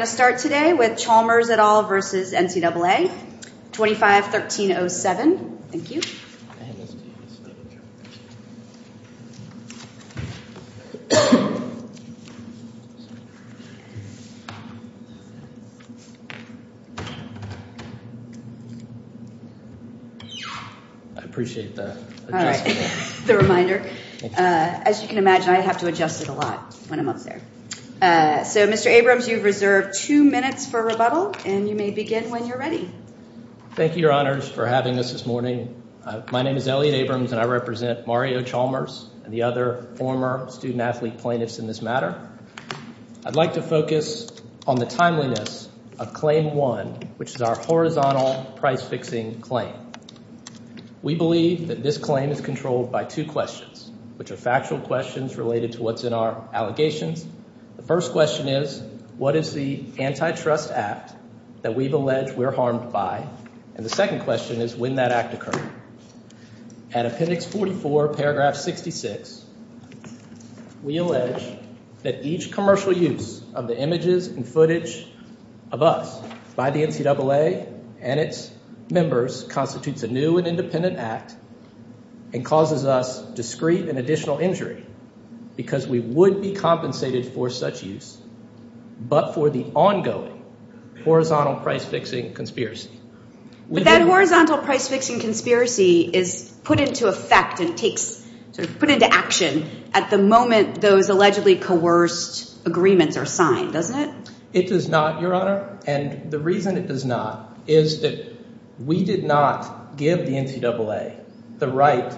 Chalmers et al. v. National Collegiate Athletic Association Chalmers et al. As you can imagine, I have to adjust it a lot when I'm up there. So, Mr. Abrams, you've reserved two minutes for rebuttal, and you may begin when you're ready. Thank you, Your Honors, for having us this morning. My name is Elliot Abrams, and I represent Mario Chalmers and the other former student athlete plaintiffs in this matter. I'd like to focus on the timeliness of Claim 1, which is our horizontal price-fixing claim. We believe that this claim is controlled by two questions, which are factual questions related to what's in our allegations. The first question is, what is the antitrust act that we've alleged we're harmed by? And the second question is, when did that act occur? At Appendix 44, Paragraph 66, we allege that each commercial use of the images and footage of us by the NCAA and its members constitutes a new and independent act and causes us discreet and additional injury because we would be compensated for such use but for the ongoing horizontal price-fixing conspiracy. But that horizontal price-fixing conspiracy is put into effect and takes – sort of put into action at the moment those allegedly coerced agreements are signed, doesn't it? It does not, Your Honor, and the reason it does not is that we did not give the NCAA the right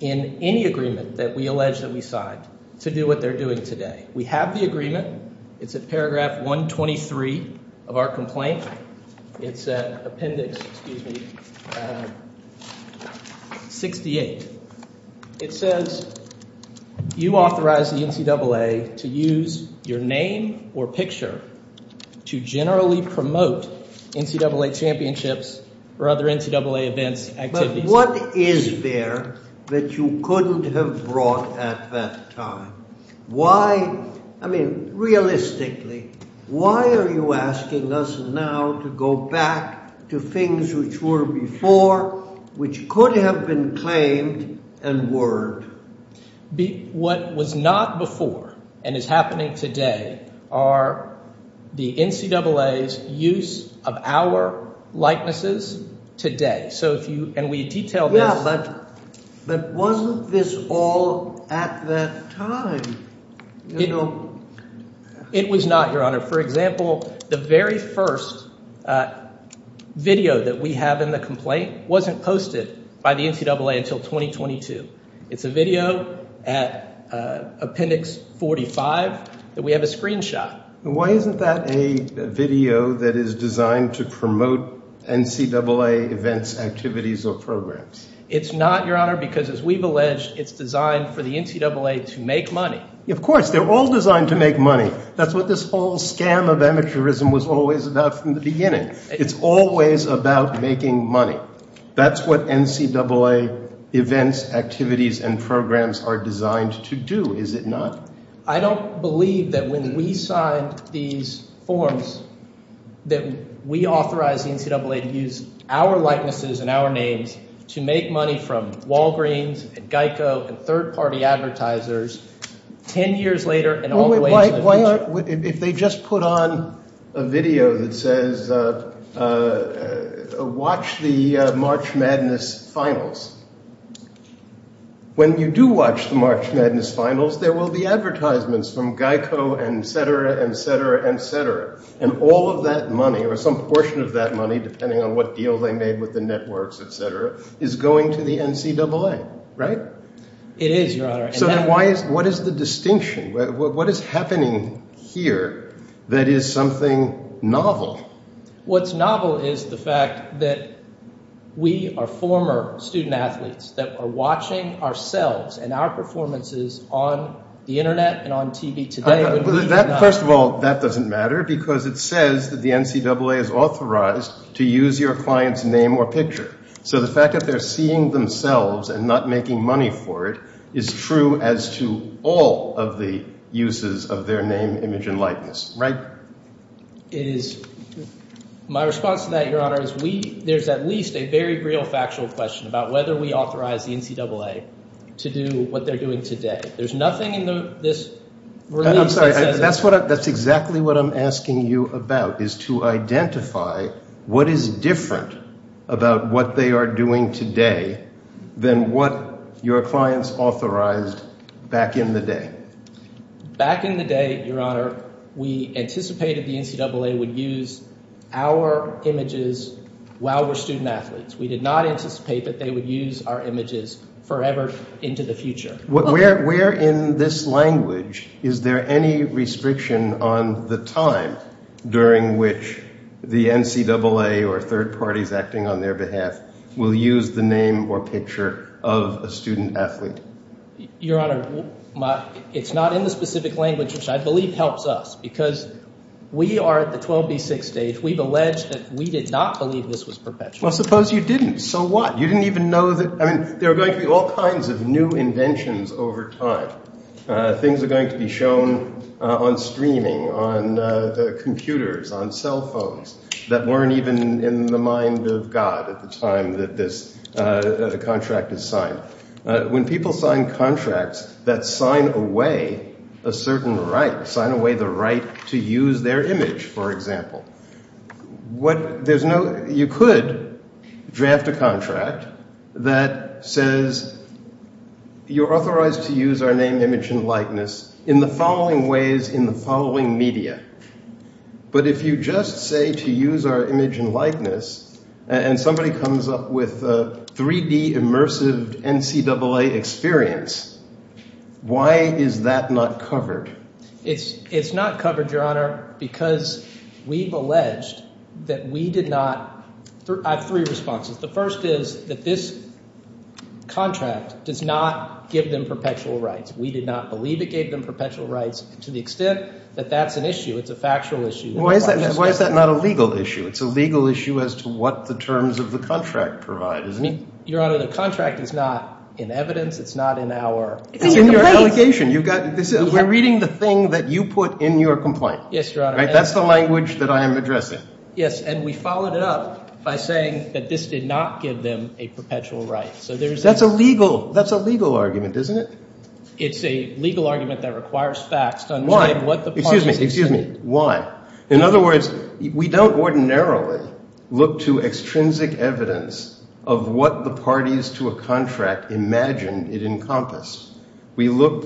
in any agreement that we allege that we signed to do what they're doing today. We have the agreement. It's at Paragraph 123 of our complaint. It's at Appendix 68. It says you authorize the NCAA to use your name or picture to generally promote NCAA championships or other NCAA events, activities. What is there that you couldn't have brought at that time? Why – I mean realistically, why are you asking us now to go back to things which were before, which could have been claimed and word? What was not before and is happening today are the NCAA's use of our likenesses today. Yeah, but wasn't this all at that time? It was not, Your Honor. For example, the very first video that we have in the complaint wasn't posted by the NCAA until 2022. It's a video at Appendix 45 that we have a screenshot. Why isn't that a video that is designed to promote NCAA events, activities, or programs? It's not, Your Honor, because as we've alleged, it's designed for the NCAA to make money. Of course. They're all designed to make money. That's what this whole scam of amateurism was always about from the beginning. It's always about making money. That's what NCAA events, activities, and programs are designed to do, is it not? I don't believe that when we signed these forms that we authorized the NCAA to use our likenesses and our names to make money from Walgreens and Geico and third-party advertisers 10 years later and all the way to the future. If they just put on a video that says, watch the March Madness finals, when you do watch the March Madness finals, there will be advertisements from Geico, etc., etc., etc. And all of that money or some portion of that money, depending on what deal they made with the networks, etc., is going to the NCAA, right? It is, Your Honor. So then what is the distinction? What is happening here that is something novel? What's novel is the fact that we are former student-athletes that are watching ourselves and our performances on the Internet and on TV today. First of all, that doesn't matter because it says that the NCAA is authorized to use your client's name or picture. So the fact that they're seeing themselves and not making money for it is true as to all of the uses of their name, image, and likeness, right? It is. My response to that, Your Honor, is we – there's at least a very real factual question about whether we authorized the NCAA to do what they're doing today. There's nothing in this release that says that. I'm sorry. That's exactly what I'm asking you about is to identify what is different about what they are doing today than what your clients authorized back in the day. Back in the day, Your Honor, we anticipated the NCAA would use our images while we're student-athletes. We did not anticipate that they would use our images forever into the future. Where in this language is there any restriction on the time during which the NCAA or third parties acting on their behalf will use the name or picture of a student-athlete? Your Honor, it's not in the specific language which I believe helps us because we are at the 12B6 stage. We've alleged that we did not believe this was perpetual. Well, suppose you didn't. So what? You didn't even know that – I mean, there are going to be all kinds of new inventions over time. Things are going to be shown on streaming, on computers, on cell phones that weren't even in the mind of God at the time that this contract is signed. When people sign contracts that sign away a certain right, sign away the right to use their image, for example, what – there's no – you could draft a contract that says you're authorized to use our name, image, and likeness in the following ways in the following media. But if you just say to use our image and likeness and somebody comes up with a 3D immersive NCAA experience, why is that not covered? It's not covered, Your Honor, because we've alleged that we did not – I have three responses. The first is that this contract does not give them perpetual rights. We did not believe it gave them perpetual rights to the extent that that's an issue. It's a factual issue. Why is that not a legal issue? It's a legal issue as to what the terms of the contract provide, isn't it? Your Honor, the contract is not in evidence. It's not in our – It's in your allegation. You've got – we're reading the thing that you put in your complaint. Yes, Your Honor. Right? That's the language that I am addressing. Yes, and we followed it up by saying that this did not give them a perpetual right. So there's – That's a legal – that's a legal argument, isn't it? It's a legal argument that requires facts to understand what the parties – We look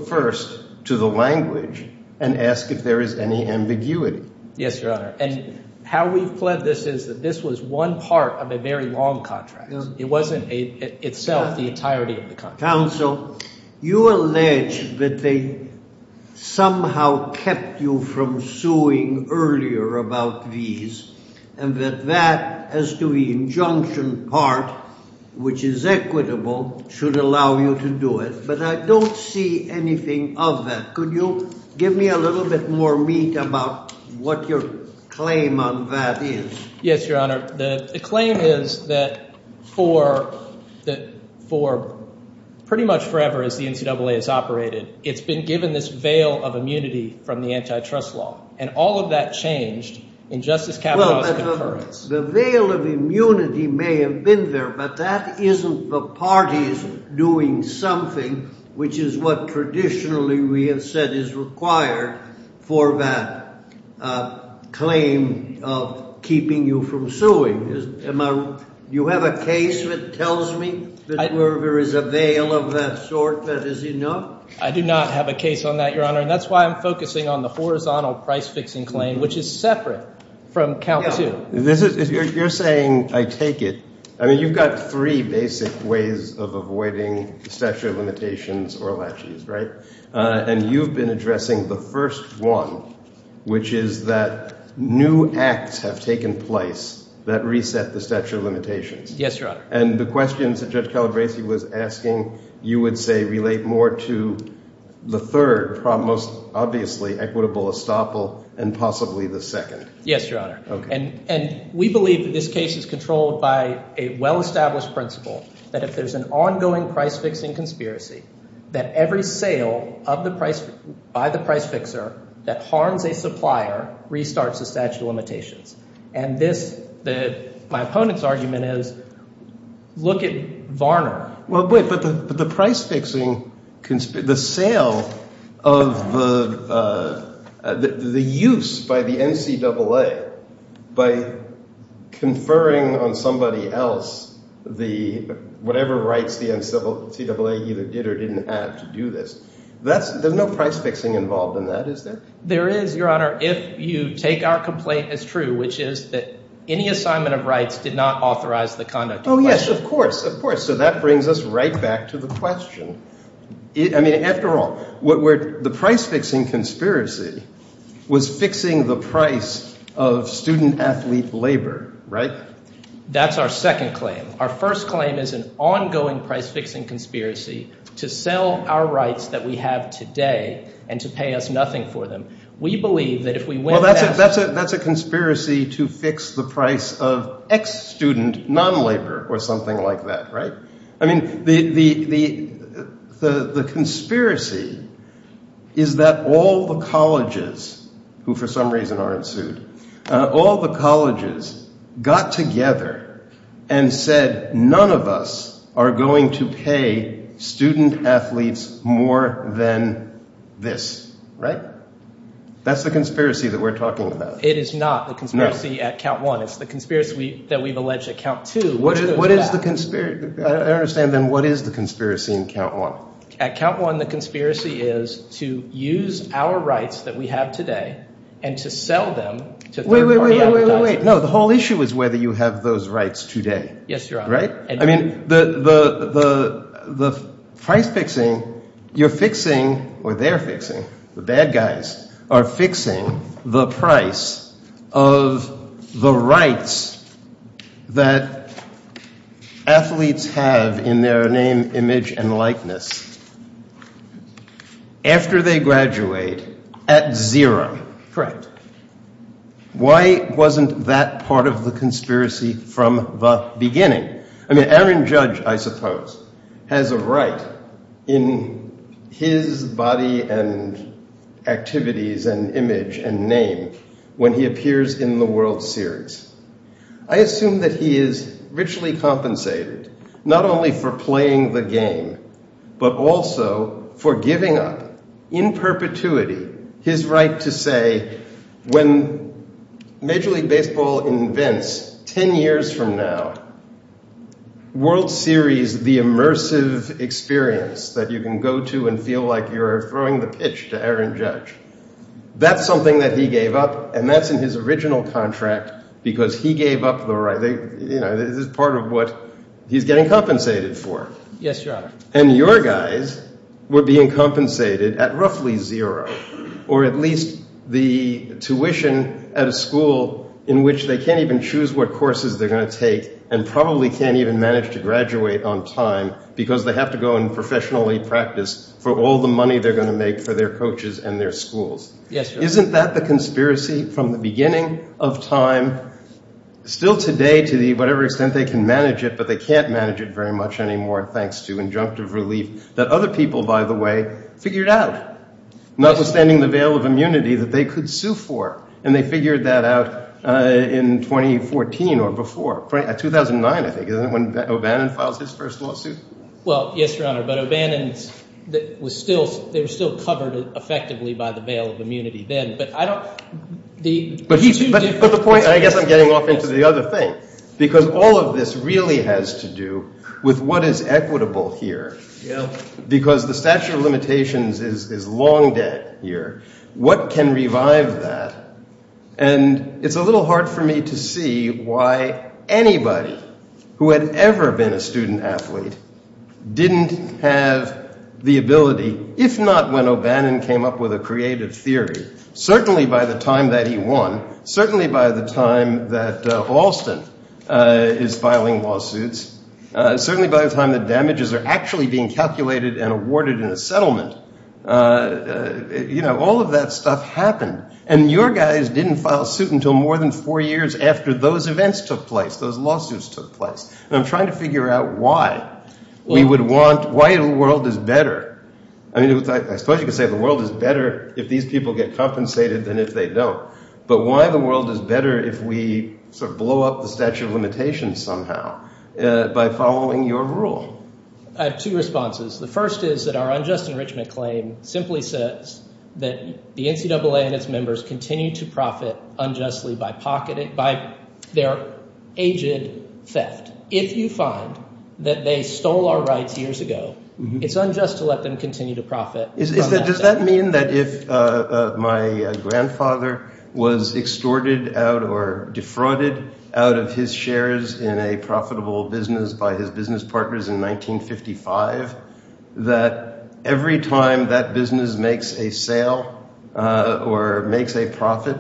first to the language and ask if there is any ambiguity. Yes, Your Honor, and how we've pled this is that this was one part of a very long contract. It wasn't itself the entirety of the contract. Counsel, you allege that they somehow kept you from suing earlier about these and that that, as to the injunction part, which is equitable, should allow you to do it. But I don't see anything of that. Could you give me a little bit more meat about what your claim on that is? Yes, Your Honor. The claim is that for pretty much forever as the NCAA has operated, it's been given this veil of immunity from the antitrust law. And all of that changed in Justice Kavanaugh's concurrence. The veil of immunity may have been there, but that isn't the parties doing something, which is what traditionally we have said is required for that claim of keeping you from suing. Do you have a case that tells me that there is a veil of that sort that is enough? I do not have a case on that, Your Honor, and that's why I'm focusing on the horizontal price-fixing claim, which is separate from count two. You're saying, I take it – I mean, you've got three basic ways of avoiding statute of limitations or laches, right? And you've been addressing the first one, which is that new acts have taken place that reset the statute of limitations. Yes, Your Honor. And the questions that Judge Calabresi was asking, you would say, relate more to the third, most obviously, equitable estoppel and possibly the second. Yes, Your Honor. And we believe that this case is controlled by a well-established principle that if there's an ongoing price-fixing conspiracy, that every sale of the – by the price-fixer that harms a supplier restarts the statute of limitations. And this – my opponent's argument is look at Varner. Well, but the price-fixing – the sale of the – the use by the NCAA by conferring on somebody else the – whatever rights the NCAA either did or didn't have to do this. That's – there's no price-fixing involved in that, is there? There is, Your Honor, if you take our complaint as true, which is that any assignment of rights did not authorize the conduct of question. Oh, yes, of course, of course. So that brings us right back to the question. I mean, after all, what we're – the price-fixing conspiracy was fixing the price of student athlete labor, right? That's our second claim. Our first claim is an ongoing price-fixing conspiracy to sell our rights that we have today and to pay us nothing for them. Well, that's a conspiracy to fix the price of ex-student non-labor or something like that, right? I mean, the conspiracy is that all the colleges, who for some reason aren't sued, all the colleges got together and said none of us are going to pay student athletes more than this, right? That's the conspiracy that we're talking about. It is not the conspiracy at count one. It's the conspiracy that we've alleged at count two, which goes back – What is the – I don't understand, then. What is the conspiracy in count one? At count one, the conspiracy is to use our rights that we have today and to sell them to third-party advertisers. Wait, wait, wait, wait, wait. No, the whole issue is whether you have those rights today. Yes, Your Honor. Right? I mean, the price-fixing, you're fixing – or they're fixing, the bad guys are fixing the price of the rights that athletes have in their name, image, and likeness after they graduate at zero. Correct. Why wasn't that part of the conspiracy from the beginning? I mean, Aaron Judge, I suppose, has a right in his body and activities and image and name when he appears in the World Series. I assume that he is richly compensated not only for playing the game but also for giving up in perpetuity his right to say, when Major League Baseball invents ten years from now World Series, the immersive experience that you can go to and feel like you're throwing the pitch to Aaron Judge, that's something that he gave up and that's in his original contract because he gave up the right. This is part of what he's getting compensated for. Yes, Your Honor. And your guys were being compensated at roughly zero or at least the tuition at a school in which they can't even choose what courses they're going to take and probably can't even manage to graduate on time because they have to go and professionally practice for all the money they're going to make for their coaches and their schools. Yes, Your Honor. Isn't that the conspiracy from the beginning of time? Still today, to whatever extent they can manage it, but they can't manage it very much anymore thanks to injunctive relief that other people, by the way, figured out. Notwithstanding the veil of immunity that they could sue for, and they figured that out in 2014 or before. At 2009, I think, isn't that when O'Bannon files his first lawsuit? Well, yes, Your Honor, but O'Bannon's was still – they were still covered effectively by the veil of immunity then, but I don't – the two different – But the point – I guess I'm getting off into the other thing because all of this really has to do with what is equitable here because the statute of limitations is long dead here. What can revive that? And it's a little hard for me to see why anybody who had ever been a student athlete didn't have the ability, if not when O'Bannon came up with a creative theory, certainly by the time that he won, certainly by the time that Alston is filing lawsuits, certainly by the time that damages are actually being calculated and awarded in a settlement, all of that stuff happened. And your guys didn't file suit until more than four years after those events took place, those lawsuits took place. And I'm trying to figure out why we would want – why the world is better. I mean, I suppose you could say the world is better if these people get compensated than if they don't. But why the world is better if we sort of blow up the statute of limitations somehow by following your rule? I have two responses. The first is that our unjust enrichment claim simply says that the NCAA and its members continue to profit unjustly by pocketing – by their aged theft. If you find that they stole our rights years ago, it's unjust to let them continue to profit from that theft. Does that mean that if my grandfather was extorted out or defrauded out of his shares in a profitable business by his business partners in 1955, that every time that business makes a sale or makes a profit,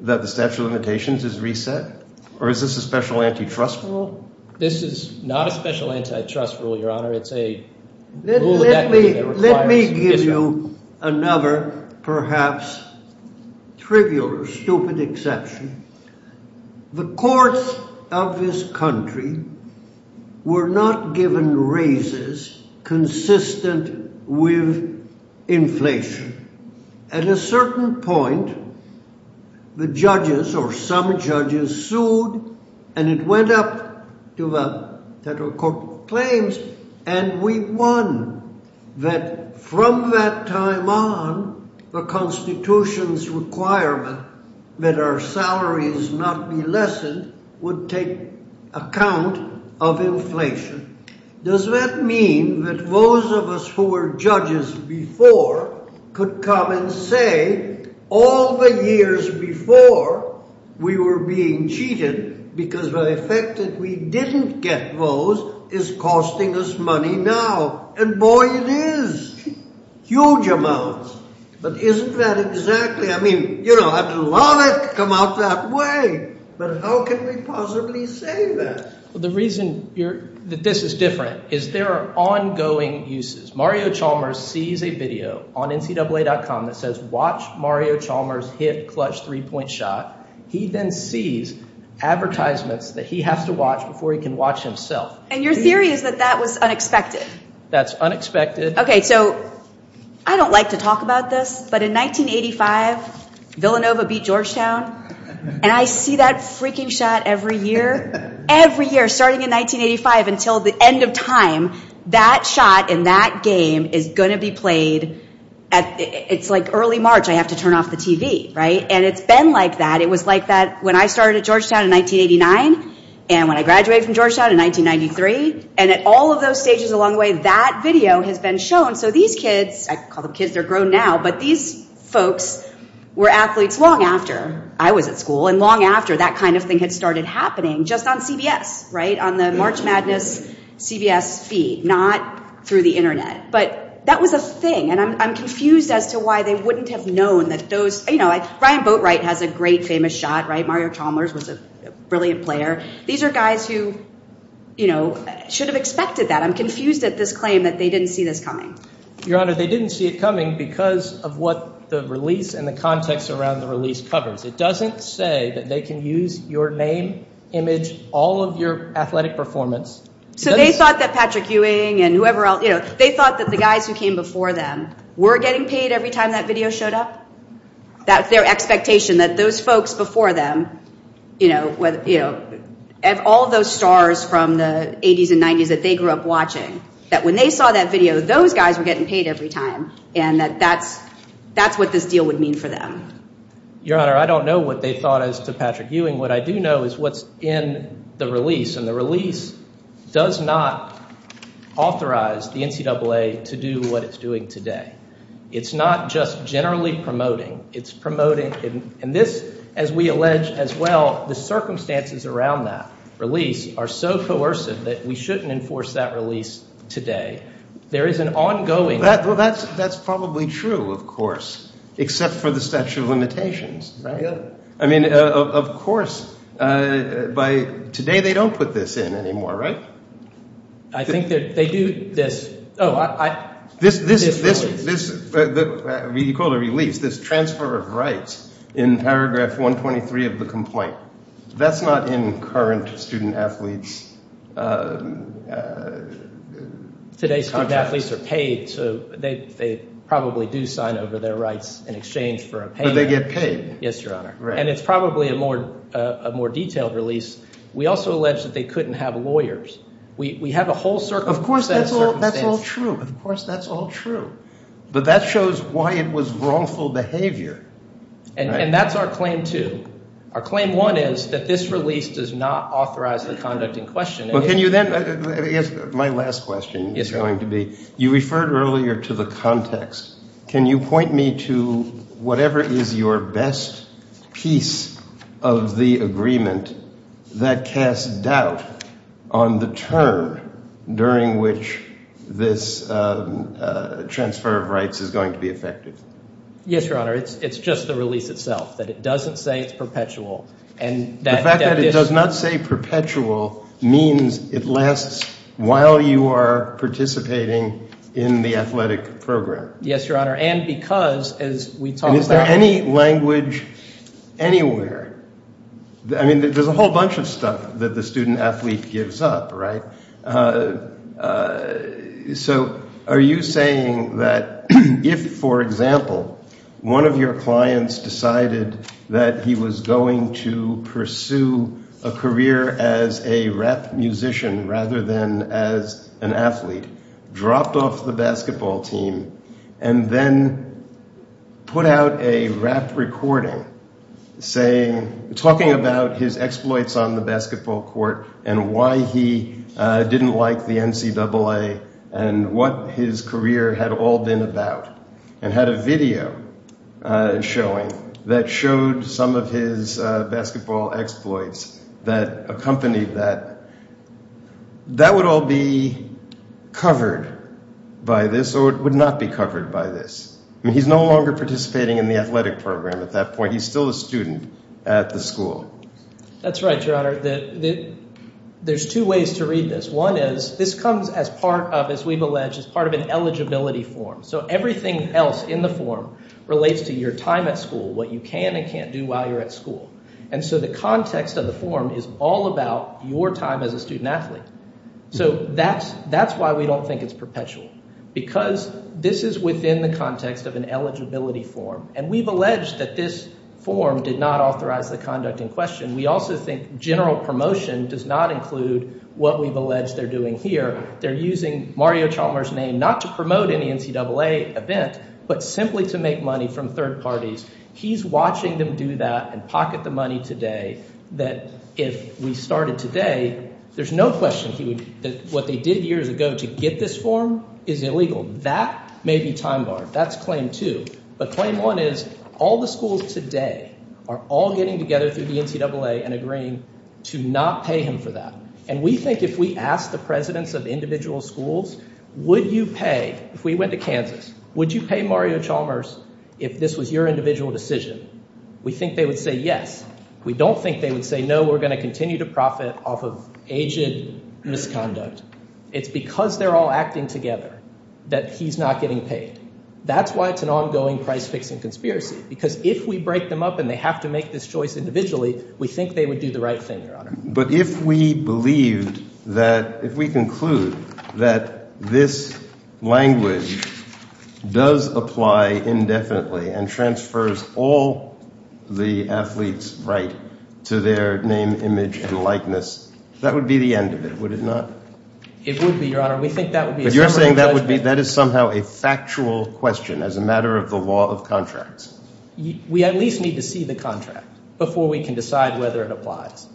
that the statute of limitations is reset? Or is this a special antitrust rule? This is not a special antitrust rule, Your Honor. Let me give you another perhaps trivial or stupid exception. The courts of this country were not given raises consistent with inflation. At a certain point, the judges or some judges sued, and it went up to the federal court claims, and we won. That from that time on, the Constitution's requirement that our salaries not be lessened would take account of inflation. Does that mean that those of us who were judges before could come and say all the years before we were being cheated because the effect that we didn't get those is costing us money now? And boy, it is huge amounts. But isn't that exactly – I mean, you know, I'd love it to come out that way, but how can we possibly say that? The reason that this is different is there are ongoing uses. Mario Chalmers sees a video on NCAA.com that says watch Mario Chalmers hit clutch three-point shot. He then sees advertisements that he has to watch before he can watch himself. And your theory is that that was unexpected? That's unexpected. Okay, so I don't like to talk about this, but in 1985, Villanova beat Georgetown. And I see that freaking shot every year, every year, starting in 1985 until the end of time. That shot in that game is going to be played at – it's like early March. I have to turn off the TV, right? And it's been like that. It was like that when I started at Georgetown in 1989 and when I graduated from Georgetown in 1993. And at all of those stages along the way, that video has been shown. So these kids – I call them kids. They're grown now. But these folks were athletes long after I was at school and long after that kind of thing had started happening just on CBS, right, on the March Madness CBS feed, not through the Internet. But that was a thing, and I'm confused as to why they wouldn't have known that those – you know, like Ryan Boatwright has a great famous shot, right? Mario Chalmers was a brilliant player. These are guys who, you know, should have expected that. I'm confused at this claim that they didn't see this coming. Your Honor, they didn't see it coming because of what the release and the context around the release covers. It doesn't say that they can use your name, image, all of your athletic performance. So they thought that Patrick Ewing and whoever else, you know, they thought that the guys who came before them were getting paid every time that video showed up, that their expectation that those folks before them, you know, all of those stars from the 80s and 90s that they grew up watching, that when they saw that video, those guys were getting paid every time, and that that's what this deal would mean for them. Your Honor, I don't know what they thought as to Patrick Ewing. What I do know is what's in the release, and the release does not authorize the NCAA to do what it's doing today. It's not just generally promoting. It's promoting, and this, as we allege as well, the circumstances around that release are so coercive that we shouldn't enforce that release today. There is an ongoing. Well, that's probably true, of course, except for the statute of limitations. Right. I mean, of course, by today they don't put this in anymore, right? I think they do this. You call it a release, this transfer of rights in paragraph 123 of the complaint. That's not in current student-athletes' contracts. Today's student-athletes are paid, so they probably do sign over their rights in exchange for a payment. But they get paid. Yes, Your Honor, and it's probably a more detailed release. We also allege that they couldn't have lawyers. We have a whole circumstance. Of course, that's all true. Of course, that's all true. But that shows why it was wrongful behavior. And that's our claim two. Our claim one is that this release does not authorize the conduct in question. Well, can you then – my last question is going to be, you referred earlier to the context. Can you point me to whatever is your best piece of the agreement that casts doubt on the turn during which this transfer of rights is going to be effective? Yes, Your Honor. It's just the release itself, that it doesn't say it's perpetual. The fact that it does not say perpetual means it lasts while you are participating in the athletic program. Yes, Your Honor. And because, as we talked about – Is there any language anywhere – I mean there's a whole bunch of stuff that the student athlete gives up, right? So are you saying that if, for example, one of your clients decided that he was going to pursue a career as a rap musician rather than as an athlete, dropped off the basketball team, and then put out a rap recording talking about his exploits on the basketball court and why he didn't like the NCAA and what his career had all been about, and had a video showing that showed some of his basketball exploits that accompanied that, that would all be covered by this or it would not be covered by this. I mean he's no longer participating in the athletic program at that point. He's still a student at the school. That's right, Your Honor. There's two ways to read this. One is this comes as part of, as we've alleged, as part of an eligibility form. So everything else in the form relates to your time at school, what you can and can't do while you're at school. And so the context of the form is all about your time as a student athlete. So that's why we don't think it's perpetual because this is within the context of an eligibility form. And we've alleged that this form did not authorize the conduct in question. We also think general promotion does not include what we've alleged they're doing here. They're using Mario Chalmers' name not to promote any NCAA event but simply to make money from third parties. He's watching them do that and pocket the money today that if we started today, there's no question that what they did years ago to get this form is illegal. That may be time barred. That's claim two. But claim one is all the schools today are all getting together through the NCAA and agreeing to not pay him for that. And we think if we ask the presidents of individual schools, would you pay, if we went to Kansas, would you pay Mario Chalmers if this was your individual decision? We think they would say yes. We don't think they would say, no, we're going to continue to profit off of aged misconduct. It's because they're all acting together that he's not getting paid. That's why it's an ongoing price-fixing conspiracy because if we break them up and they have to make this choice individually, we think they would do the right thing, Your Honor. But if we believed that – if we conclude that this language does apply indefinitely and transfers all the athletes' right to their name, image, and likeness, that would be the end of it, would it not? It would be, Your Honor. We think that would be a summary of judgment. But you're saying that is somehow a factual question as a matter of the law of contracts. We at least need to see the contract before we can decide whether it applies.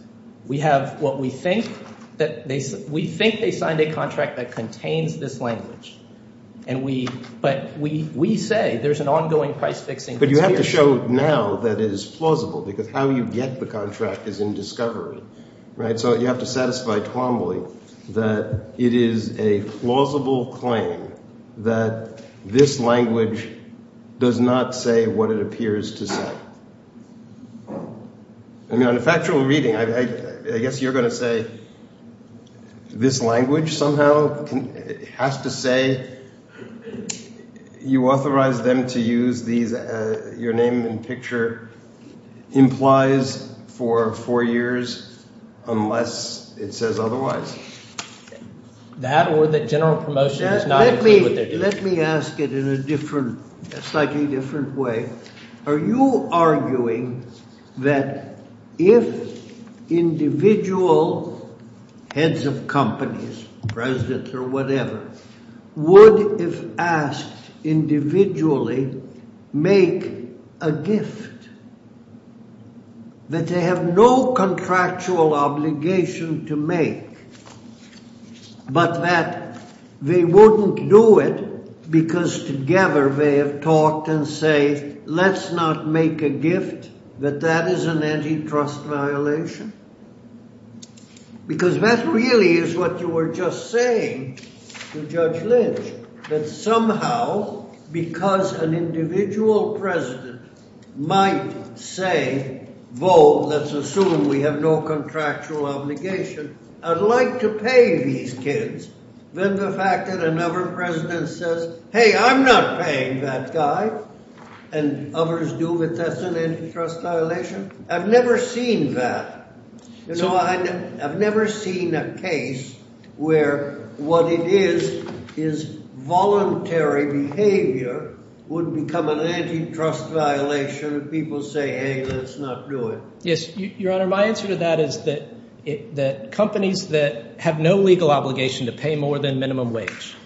We have what we think that – we think they signed a contract that contains this language. And we – but we say there's an ongoing price-fixing conspiracy. But you have to show now that it is plausible because how you get the contract is in discovery, right? So you have to satisfy Twombly that it is a plausible claim that this language does not say what it appears to say. I mean on a factual reading, I guess you're going to say this language somehow has to say you authorize them to use these – your name and picture implies for four years unless it says otherwise. That or that general promotion is not exactly what they're doing. Let me ask it in a different – slightly different way. Are you arguing that if individual heads of companies, presidents or whatever, would, if asked individually, make a gift that they have no contractual obligation to make but that they wouldn't do it because together they have talked and say let's not make a gift, that that is an antitrust violation? Because that really is what you were just saying to Judge Lynch, that somehow because an individual president might say, vote, let's assume we have no contractual obligation, I'd like to pay these kids. Then the fact that another president says, hey, I'm not paying that guy, and others do, but that's an antitrust violation. I've never seen that. I've never seen a case where what it is is voluntary behavior would become an antitrust violation if people say, hey, let's not do it. Yes, Your Honor, my answer to that is that companies that have no legal obligation to pay more than minimum wage,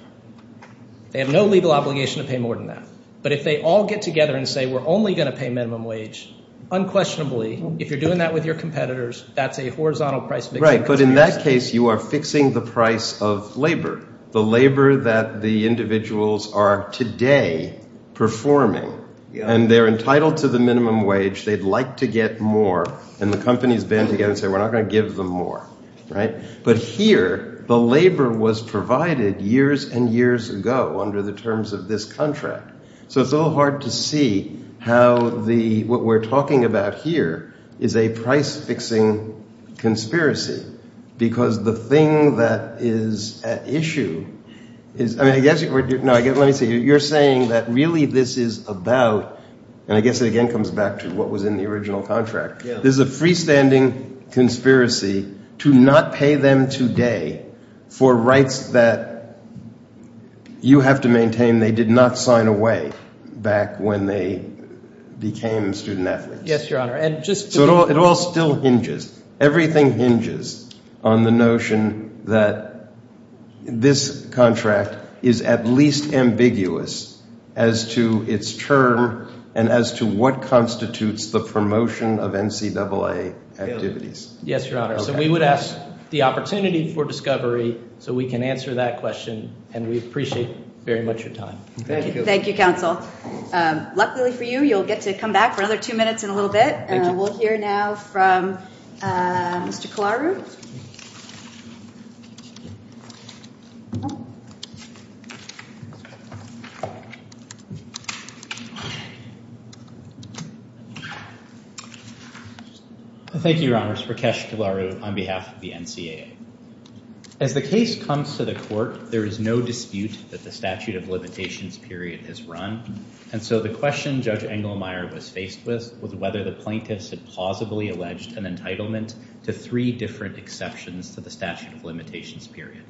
they have no legal obligation to pay more than that. But if they all get together and say we're only going to pay minimum wage, unquestionably, if you're doing that with your competitors, that's a horizontal price mix. Right, but in that case, you are fixing the price of labor, the labor that the individuals are today performing. And they're entitled to the minimum wage. They'd like to get more. And the companies band together and say we're not going to give them more. But here, the labor was provided years and years ago under the terms of this contract. So it's a little hard to see how what we're talking about here is a price-fixing conspiracy because the thing that is at issue is – I mean, let me see. You're saying that really this is about – and I guess it again comes back to what was in the original contract. This is a freestanding conspiracy to not pay them today for rights that you have to maintain they did not sign away back when they became student-athletes. Yes, Your Honor. So it all still hinges. Everything hinges on the notion that this contract is at least ambiguous as to its term and as to what constitutes the promotion of NCAA activities. Yes, Your Honor. So we would ask the opportunity for discovery so we can answer that question, and we appreciate very much your time. Thank you. Thank you, Counsel. Luckily for you, you'll get to come back for another two minutes in a little bit. Thank you. We'll hear now from Mr. Kilaru. Thank you, Your Honor. Rakesh Kilaru on behalf of the NCAA. As the case comes to the court, there is no dispute that the statute of limitations period has run. And so the question Judge Engelmeyer was faced with was whether the plaintiffs had plausibly alleged an entitlement to three different exceptions to the statute of limitations period.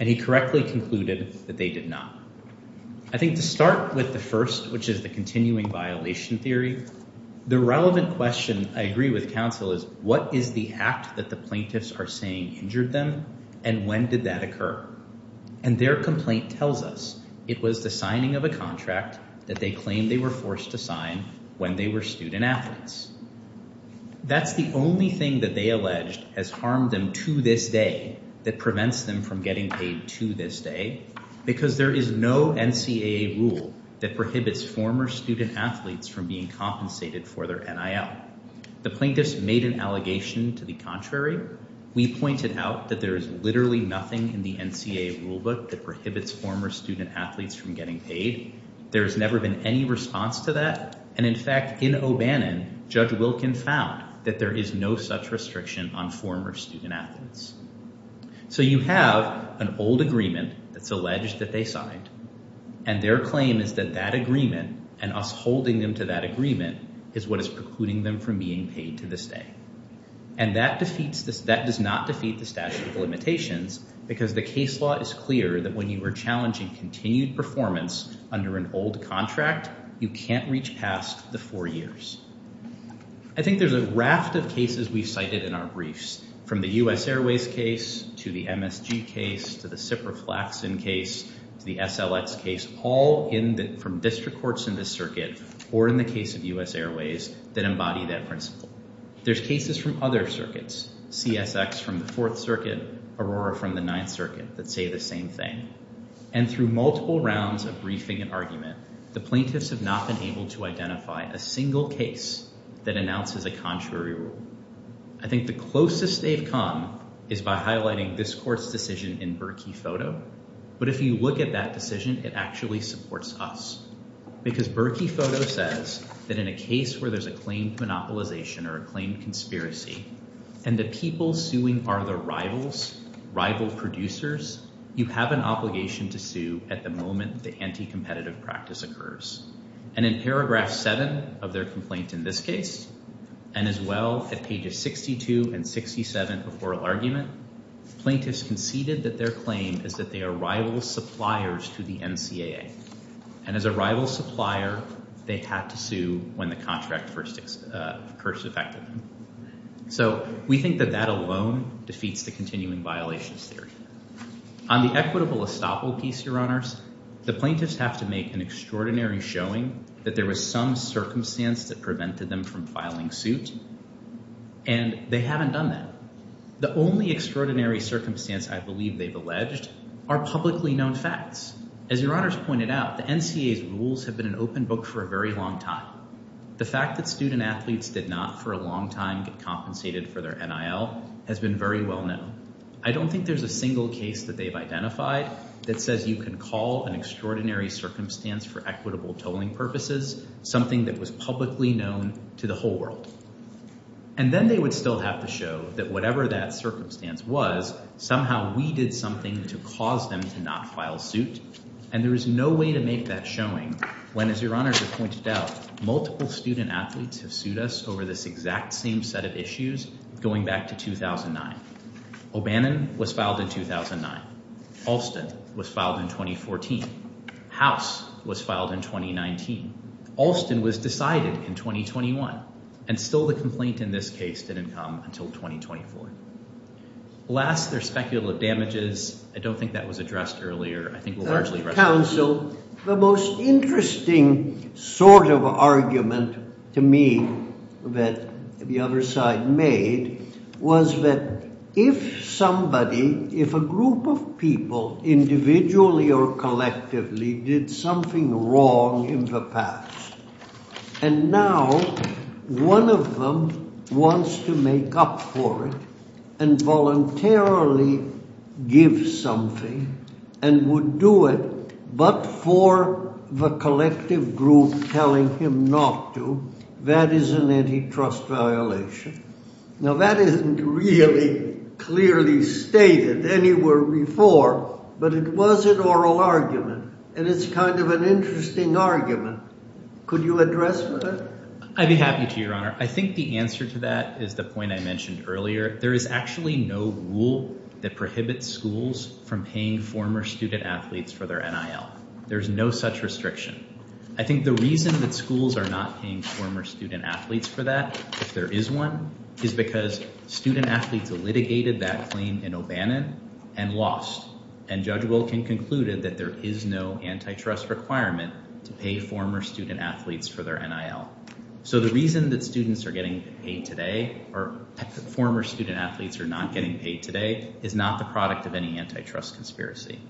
And he correctly concluded that they did not. I think to start with the first, which is the continuing violation theory, the relevant question I agree with, Counsel, is what is the act that the plaintiffs are saying injured them and when did that occur? And their complaint tells us it was the signing of a contract that they claimed they were forced to sign when they were student athletes. That's the only thing that they alleged has harmed them to this day that prevents them from getting paid to this day because there is no NCAA rule that prohibits former student athletes from being compensated for their NIL. The plaintiffs made an allegation to the contrary. We pointed out that there is literally nothing in the NCAA rulebook that prohibits former student athletes from getting paid. There has never been any response to that. And in fact, in O'Bannon, Judge Wilkin found that there is no such restriction on former student athletes. So you have an old agreement that's alleged that they signed, and their claim is that that agreement and us holding them to that agreement is what is precluding them from being paid to this day. And that does not defeat the statute of limitations because the case law is clear that when you are challenging continued performance under an old contract, you can't reach past the four years. I think there's a raft of cases we've cited in our briefs, from the U.S. Airways case to the MSG case to the SIPRA-Flaxson case to the SLX case, all from district courts in this circuit or in the case of U.S. Airways that embody that principle. There's cases from other circuits, CSX from the Fourth Circuit, Aurora from the Ninth Circuit, that say the same thing. And through multiple rounds of briefing and argument, the plaintiffs have not been able to identify a single case that announces a contrary rule. I think the closest they've come is by highlighting this court's decision in Berkey Photo. But if you look at that decision, it actually supports us because Berkey Photo says that in a case where there's a claimed monopolization or a claimed conspiracy, and the people suing are the rivals, rival producers, you have an obligation to sue at the moment the anti-competitive practice occurs. And in paragraph 7 of their complaint in this case, and as well at pages 62 and 67 of oral argument, plaintiffs conceded that their claim is that they are rival suppliers to the NCAA. And as a rival supplier, they had to sue when the contract first occurs effectively. So we think that that alone defeats the continuing violations theory. On the equitable estoppel piece, Your Honors, the plaintiffs have to make an extraordinary showing that there was some circumstance that prevented them from filing suit, and they haven't done that. The only extraordinary circumstance I believe they've alleged are publicly known facts. As Your Honors pointed out, the NCAA's rules have been an open book for a very long time. The fact that student athletes did not for a long time get compensated for their NIL has been very well known. I don't think there's a single case that they've identified that says you can call an extraordinary circumstance for equitable tolling purposes something that was publicly known to the whole world. And then they would still have to show that whatever that circumstance was, somehow we did something to cause them to not file suit. And there is no way to make that showing when, as Your Honors have pointed out, multiple student athletes have sued us over this exact same set of issues going back to 2009. O'Bannon was filed in 2009. Alston was filed in 2014. House was filed in 2019. Alston was decided in 2021. And still the complaint in this case didn't come until 2024. Last, there's speculative damages. I don't think that was addressed earlier. I think it was largely addressed earlier. Counsel, the most interesting sort of argument to me that the other side made was that if somebody, if a group of people individually or collectively did something wrong in the past, and now one of them wants to make up for it and voluntarily give something and would do it but for the collective group telling him not to, that is an antitrust violation. Now, that isn't really clearly stated anywhere before, but it was an oral argument. And it's kind of an interesting argument. Could you address that? I'd be happy to, Your Honor. I think the answer to that is the point I mentioned earlier. There is actually no rule that prohibits schools from paying former student athletes for their NIL. There's no such restriction. I think the reason that schools are not paying former student athletes for that, if there is one, is because student athletes litigated that claim in O'Bannon and lost. And Judge Wilkin concluded that there is no antitrust requirement to pay former student athletes for their NIL. So the reason that students are getting paid today, or former student athletes are not getting paid today, is not the product of any antitrust conspiracy.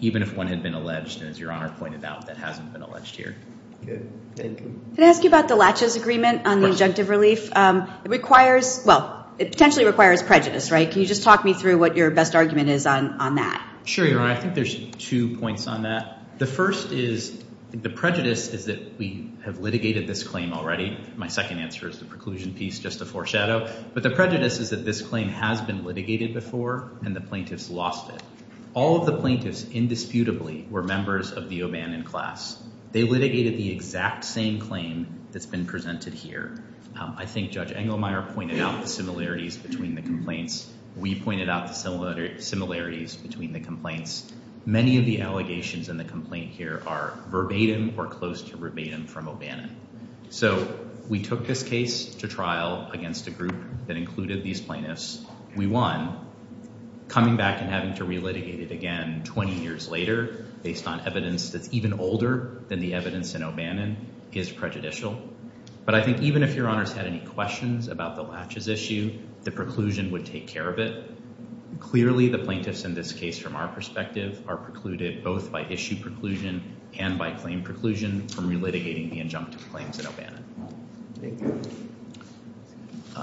Even if one had been alleged, as Your Honor pointed out, that hasn't been alleged here. Thank you. Can I ask you about the laches agreement on the injunctive relief? It requires, well, it potentially requires prejudice, right? Can you just talk me through what your best argument is on that? Sure, Your Honor. I think there's two points on that. The first is the prejudice is that we have litigated this claim already. My second answer is the preclusion piece, just to foreshadow. But the prejudice is that this claim has been litigated before, and the plaintiffs lost it. All of the plaintiffs, indisputably, were members of the O'Bannon class. They litigated the exact same claim that's been presented here. I think Judge Engelmeyer pointed out the similarities between the complaints. We pointed out the similarities between the complaints. Many of the allegations in the complaint here are verbatim or close to verbatim from O'Bannon. So we took this case to trial against a group that included these plaintiffs. We won. Coming back and having to relitigate it again 20 years later, based on evidence that's even older than the evidence in O'Bannon, is prejudicial. But I think even if Your Honors had any questions about the latches issue, the preclusion would take care of it. Clearly, the plaintiffs in this case, from our perspective, are precluded both by issue preclusion and by claim preclusion from relitigating the injunctive claims in O'Bannon.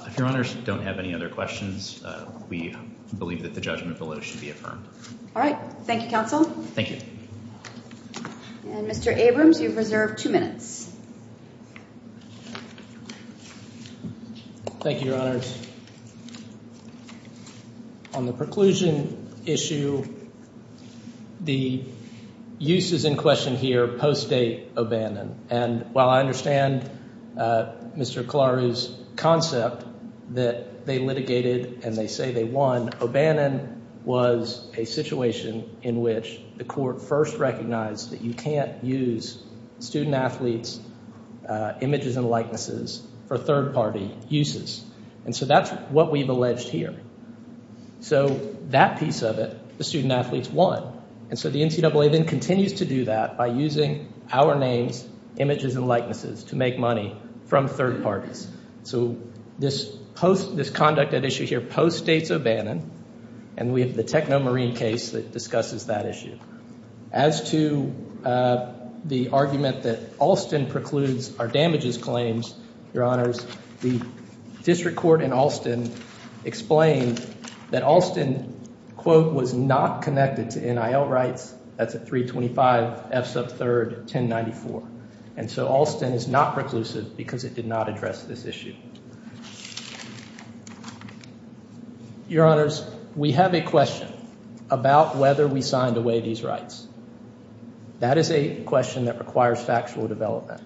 If Your Honors don't have any other questions, we believe that the judgment below should be affirmed. All right. Thank you, counsel. Thank you. And Mr. Abrams, you've reserved two minutes. Thank you, Your Honors. On the preclusion issue, the use is in question here post-date O'Bannon. And while I understand Mr. Kalaru's concept that they litigated and they say they won, O'Bannon was a situation in which the court first recognized that you can't use student-athletes' images and likenesses for third-party uses. And so that's what we've alleged here. So that piece of it, the student-athletes won. And so the NCAA then continues to do that by using our names, images, and likenesses to make money from third parties. So this conduct at issue here post-dates O'Bannon, and we have the Techno Marine case that discusses that issue. As to the argument that Alston precludes our damages claims, Your Honors, the district court in Alston explained that Alston, quote, was not connected to NIL rights. That's at 325 F sub 3rd, 1094. And so Alston is not preclusive because it did not address this issue. Your Honors, we have a question about whether we signed away these rights. That is a question that requires factual development.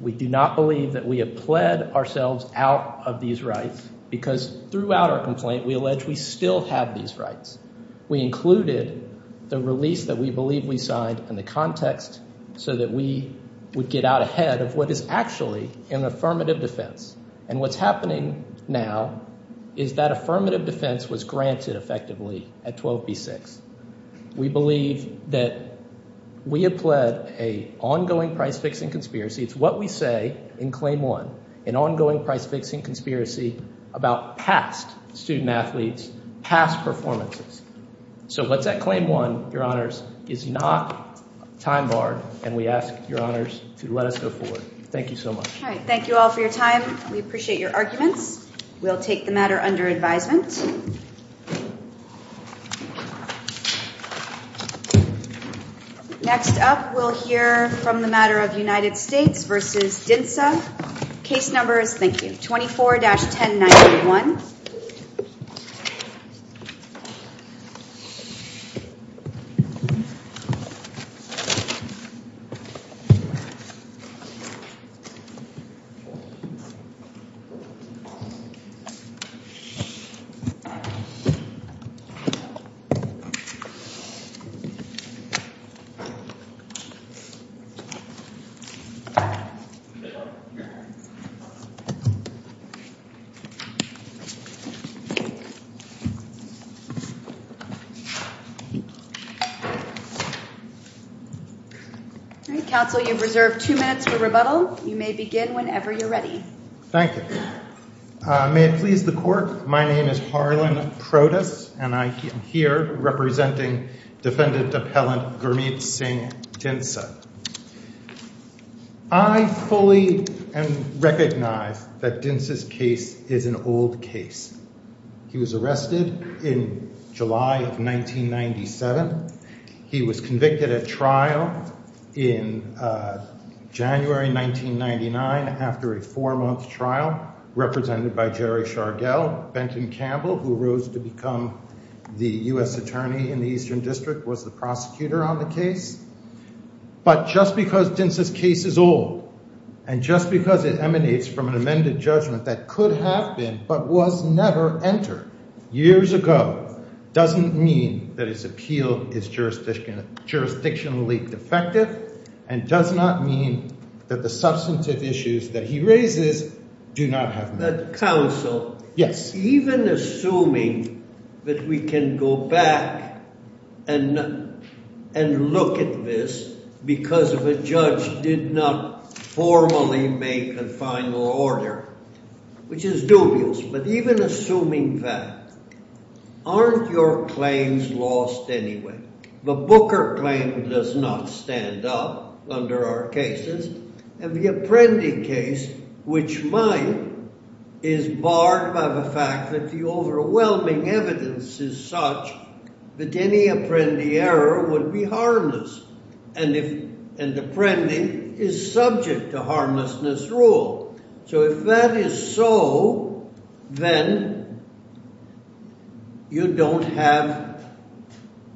We do not believe that we have pled ourselves out of these rights because throughout our complaint, we allege we still have these rights. We included the release that we believe we signed in the context so that we would get out ahead of what is actually an affirmative defense. And what's happening now is that affirmative defense was granted effectively at 12B6. We believe that we have pled an ongoing price-fixing conspiracy. It's what we say in Claim 1, an ongoing price-fixing conspiracy about past student-athletes, past performances. So what's at Claim 1, Your Honors, is not time-barred, and we ask Your Honors to let us go forward. Thank you so much. All right. Thank you all for your time. We appreciate your arguments. We'll take the matter under advisement. Next up, we'll hear from the matter of United States v. DNSSA. Case numbers, thank you, 24-1091. All right. Counsel, you've reserved two minutes for rebuttal. You may begin whenever you're ready. Thank you. May it please the Court, my name is Harlan Protus, and I am here representing Defendant Appellant Gurmeet Singh DNSSA. I fully recognize that DNSSA's case is an old case. He was arrested in July of 1997. He was convicted at trial in January 1999 after a four-month trial, represented by Jerry Shargell. Benton Campbell, who rose to become the U.S. Attorney in the Eastern District, was the prosecutor on the case. But just because DNSSA's case is old, and just because it emanates from an amended judgment that could have been but was never entered years ago, doesn't mean that his appeal is jurisdictionally defective and does not mean that the substantive issues that he raises do not have merit. Counsel, even assuming that we can go back and look at this because the judge did not formally make the final order, which is dubious, but even assuming that, aren't your claims lost anyway? The Booker claim does not stand up under our cases. And the Apprendi case, which might, is barred by the fact that the overwhelming evidence is such that any Apprendi error would be harmless. And Apprendi is subject to harmlessness rule. So if that is so, then you don't have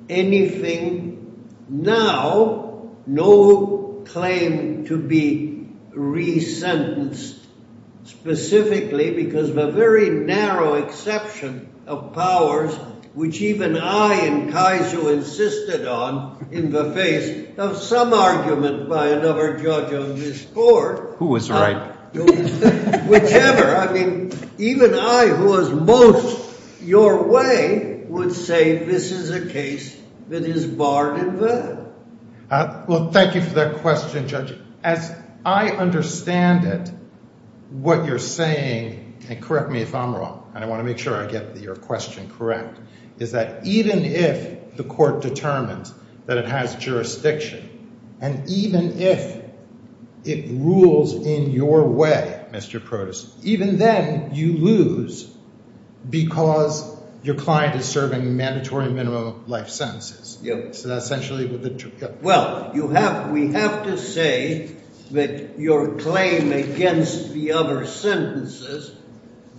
anything now, no claim to be re-sentenced specifically because of a very narrow exception of powers, which even I and Kaizu insisted on in the face of some argument by another judge on this court. Who was right? Whichever. I mean, even I who was most your way would say this is a case that is barred in vain. Well, thank you for that question, Judge. As I understand it, what you're saying, and correct me if I'm wrong, and I want to make sure I get your question correct, is that even if the court determines that it has jurisdiction, and even if it rules in your way, Mr. Protas, even then you lose because your client is serving mandatory minimum life sentences. Well, we have to say that your claim against the other sentences,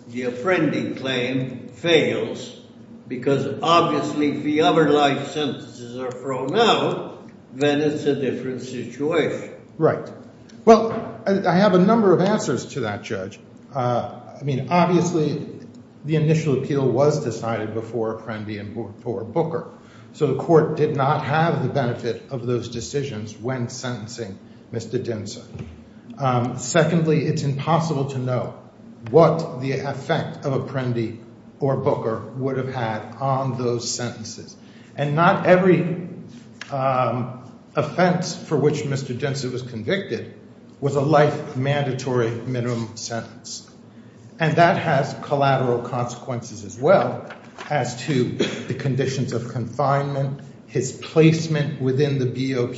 the Apprendi claim, fails because obviously if the other life sentences are thrown out, then it's a different situation. Right. Well, I have a number of answers to that, Judge. I mean, obviously the initial appeal was decided before Apprendi and before Booker. So the court did not have the benefit of those decisions when sentencing Mr. Dinsa. Secondly, it's impossible to know what the effect of Apprendi or Booker would have had on those sentences. And not every offense for which Mr. Dinsa was convicted was a life mandatory minimum sentence. And that has collateral consequences as well as to the conditions of confinement, his placement within the BOP,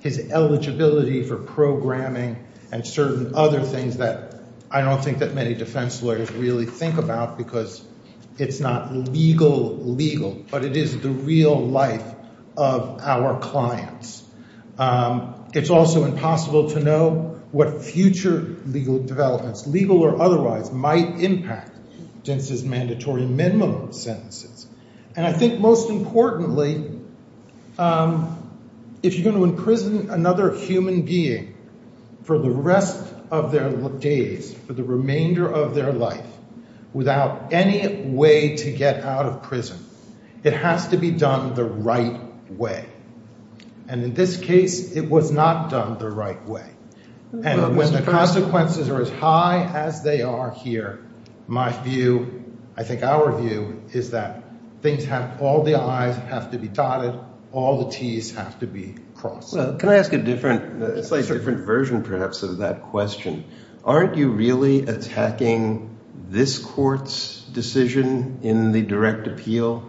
his eligibility for programming, and certain other things that I don't think that many defense lawyers really think about because it's not legal legal, but it is the real life of our clients. It's also impossible to know what future legal developments, legal or otherwise, might impact Dinsa's mandatory minimum sentences. And I think most importantly, if you're going to imprison another human being for the rest of their days, for the remainder of their life, without any way to get out of prison, it has to be done the right way. And in this case, it was not done the right way. And when the consequences are as high as they are here, my view, I think our view, is that all the I's have to be dotted, all the T's have to be crossed. Well, can I ask a different version perhaps of that question? Aren't you really attacking this court's decision in the direct appeal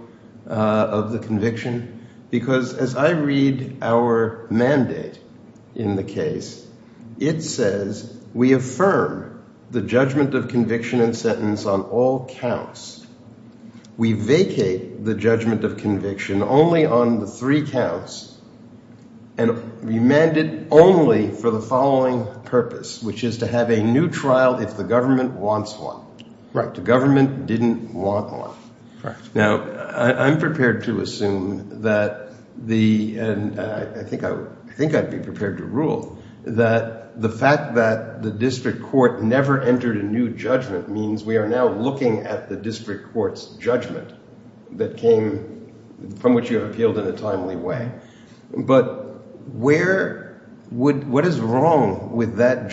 of the conviction? Because as I read our mandate in the case, it says we affirm the judgment of conviction and sentence on all counts. We vacate the judgment of conviction only on the three counts and remanded only for the following purpose, which is to have a new trial if the government wants one. The government didn't want one. Now, I'm prepared to assume that the – and I think I'd be prepared to rule that the fact that the district court never entered a new judgment means we are now looking at the district court's judgment that came – from which you have appealed in a timely way. But where – what is wrong with that judgment?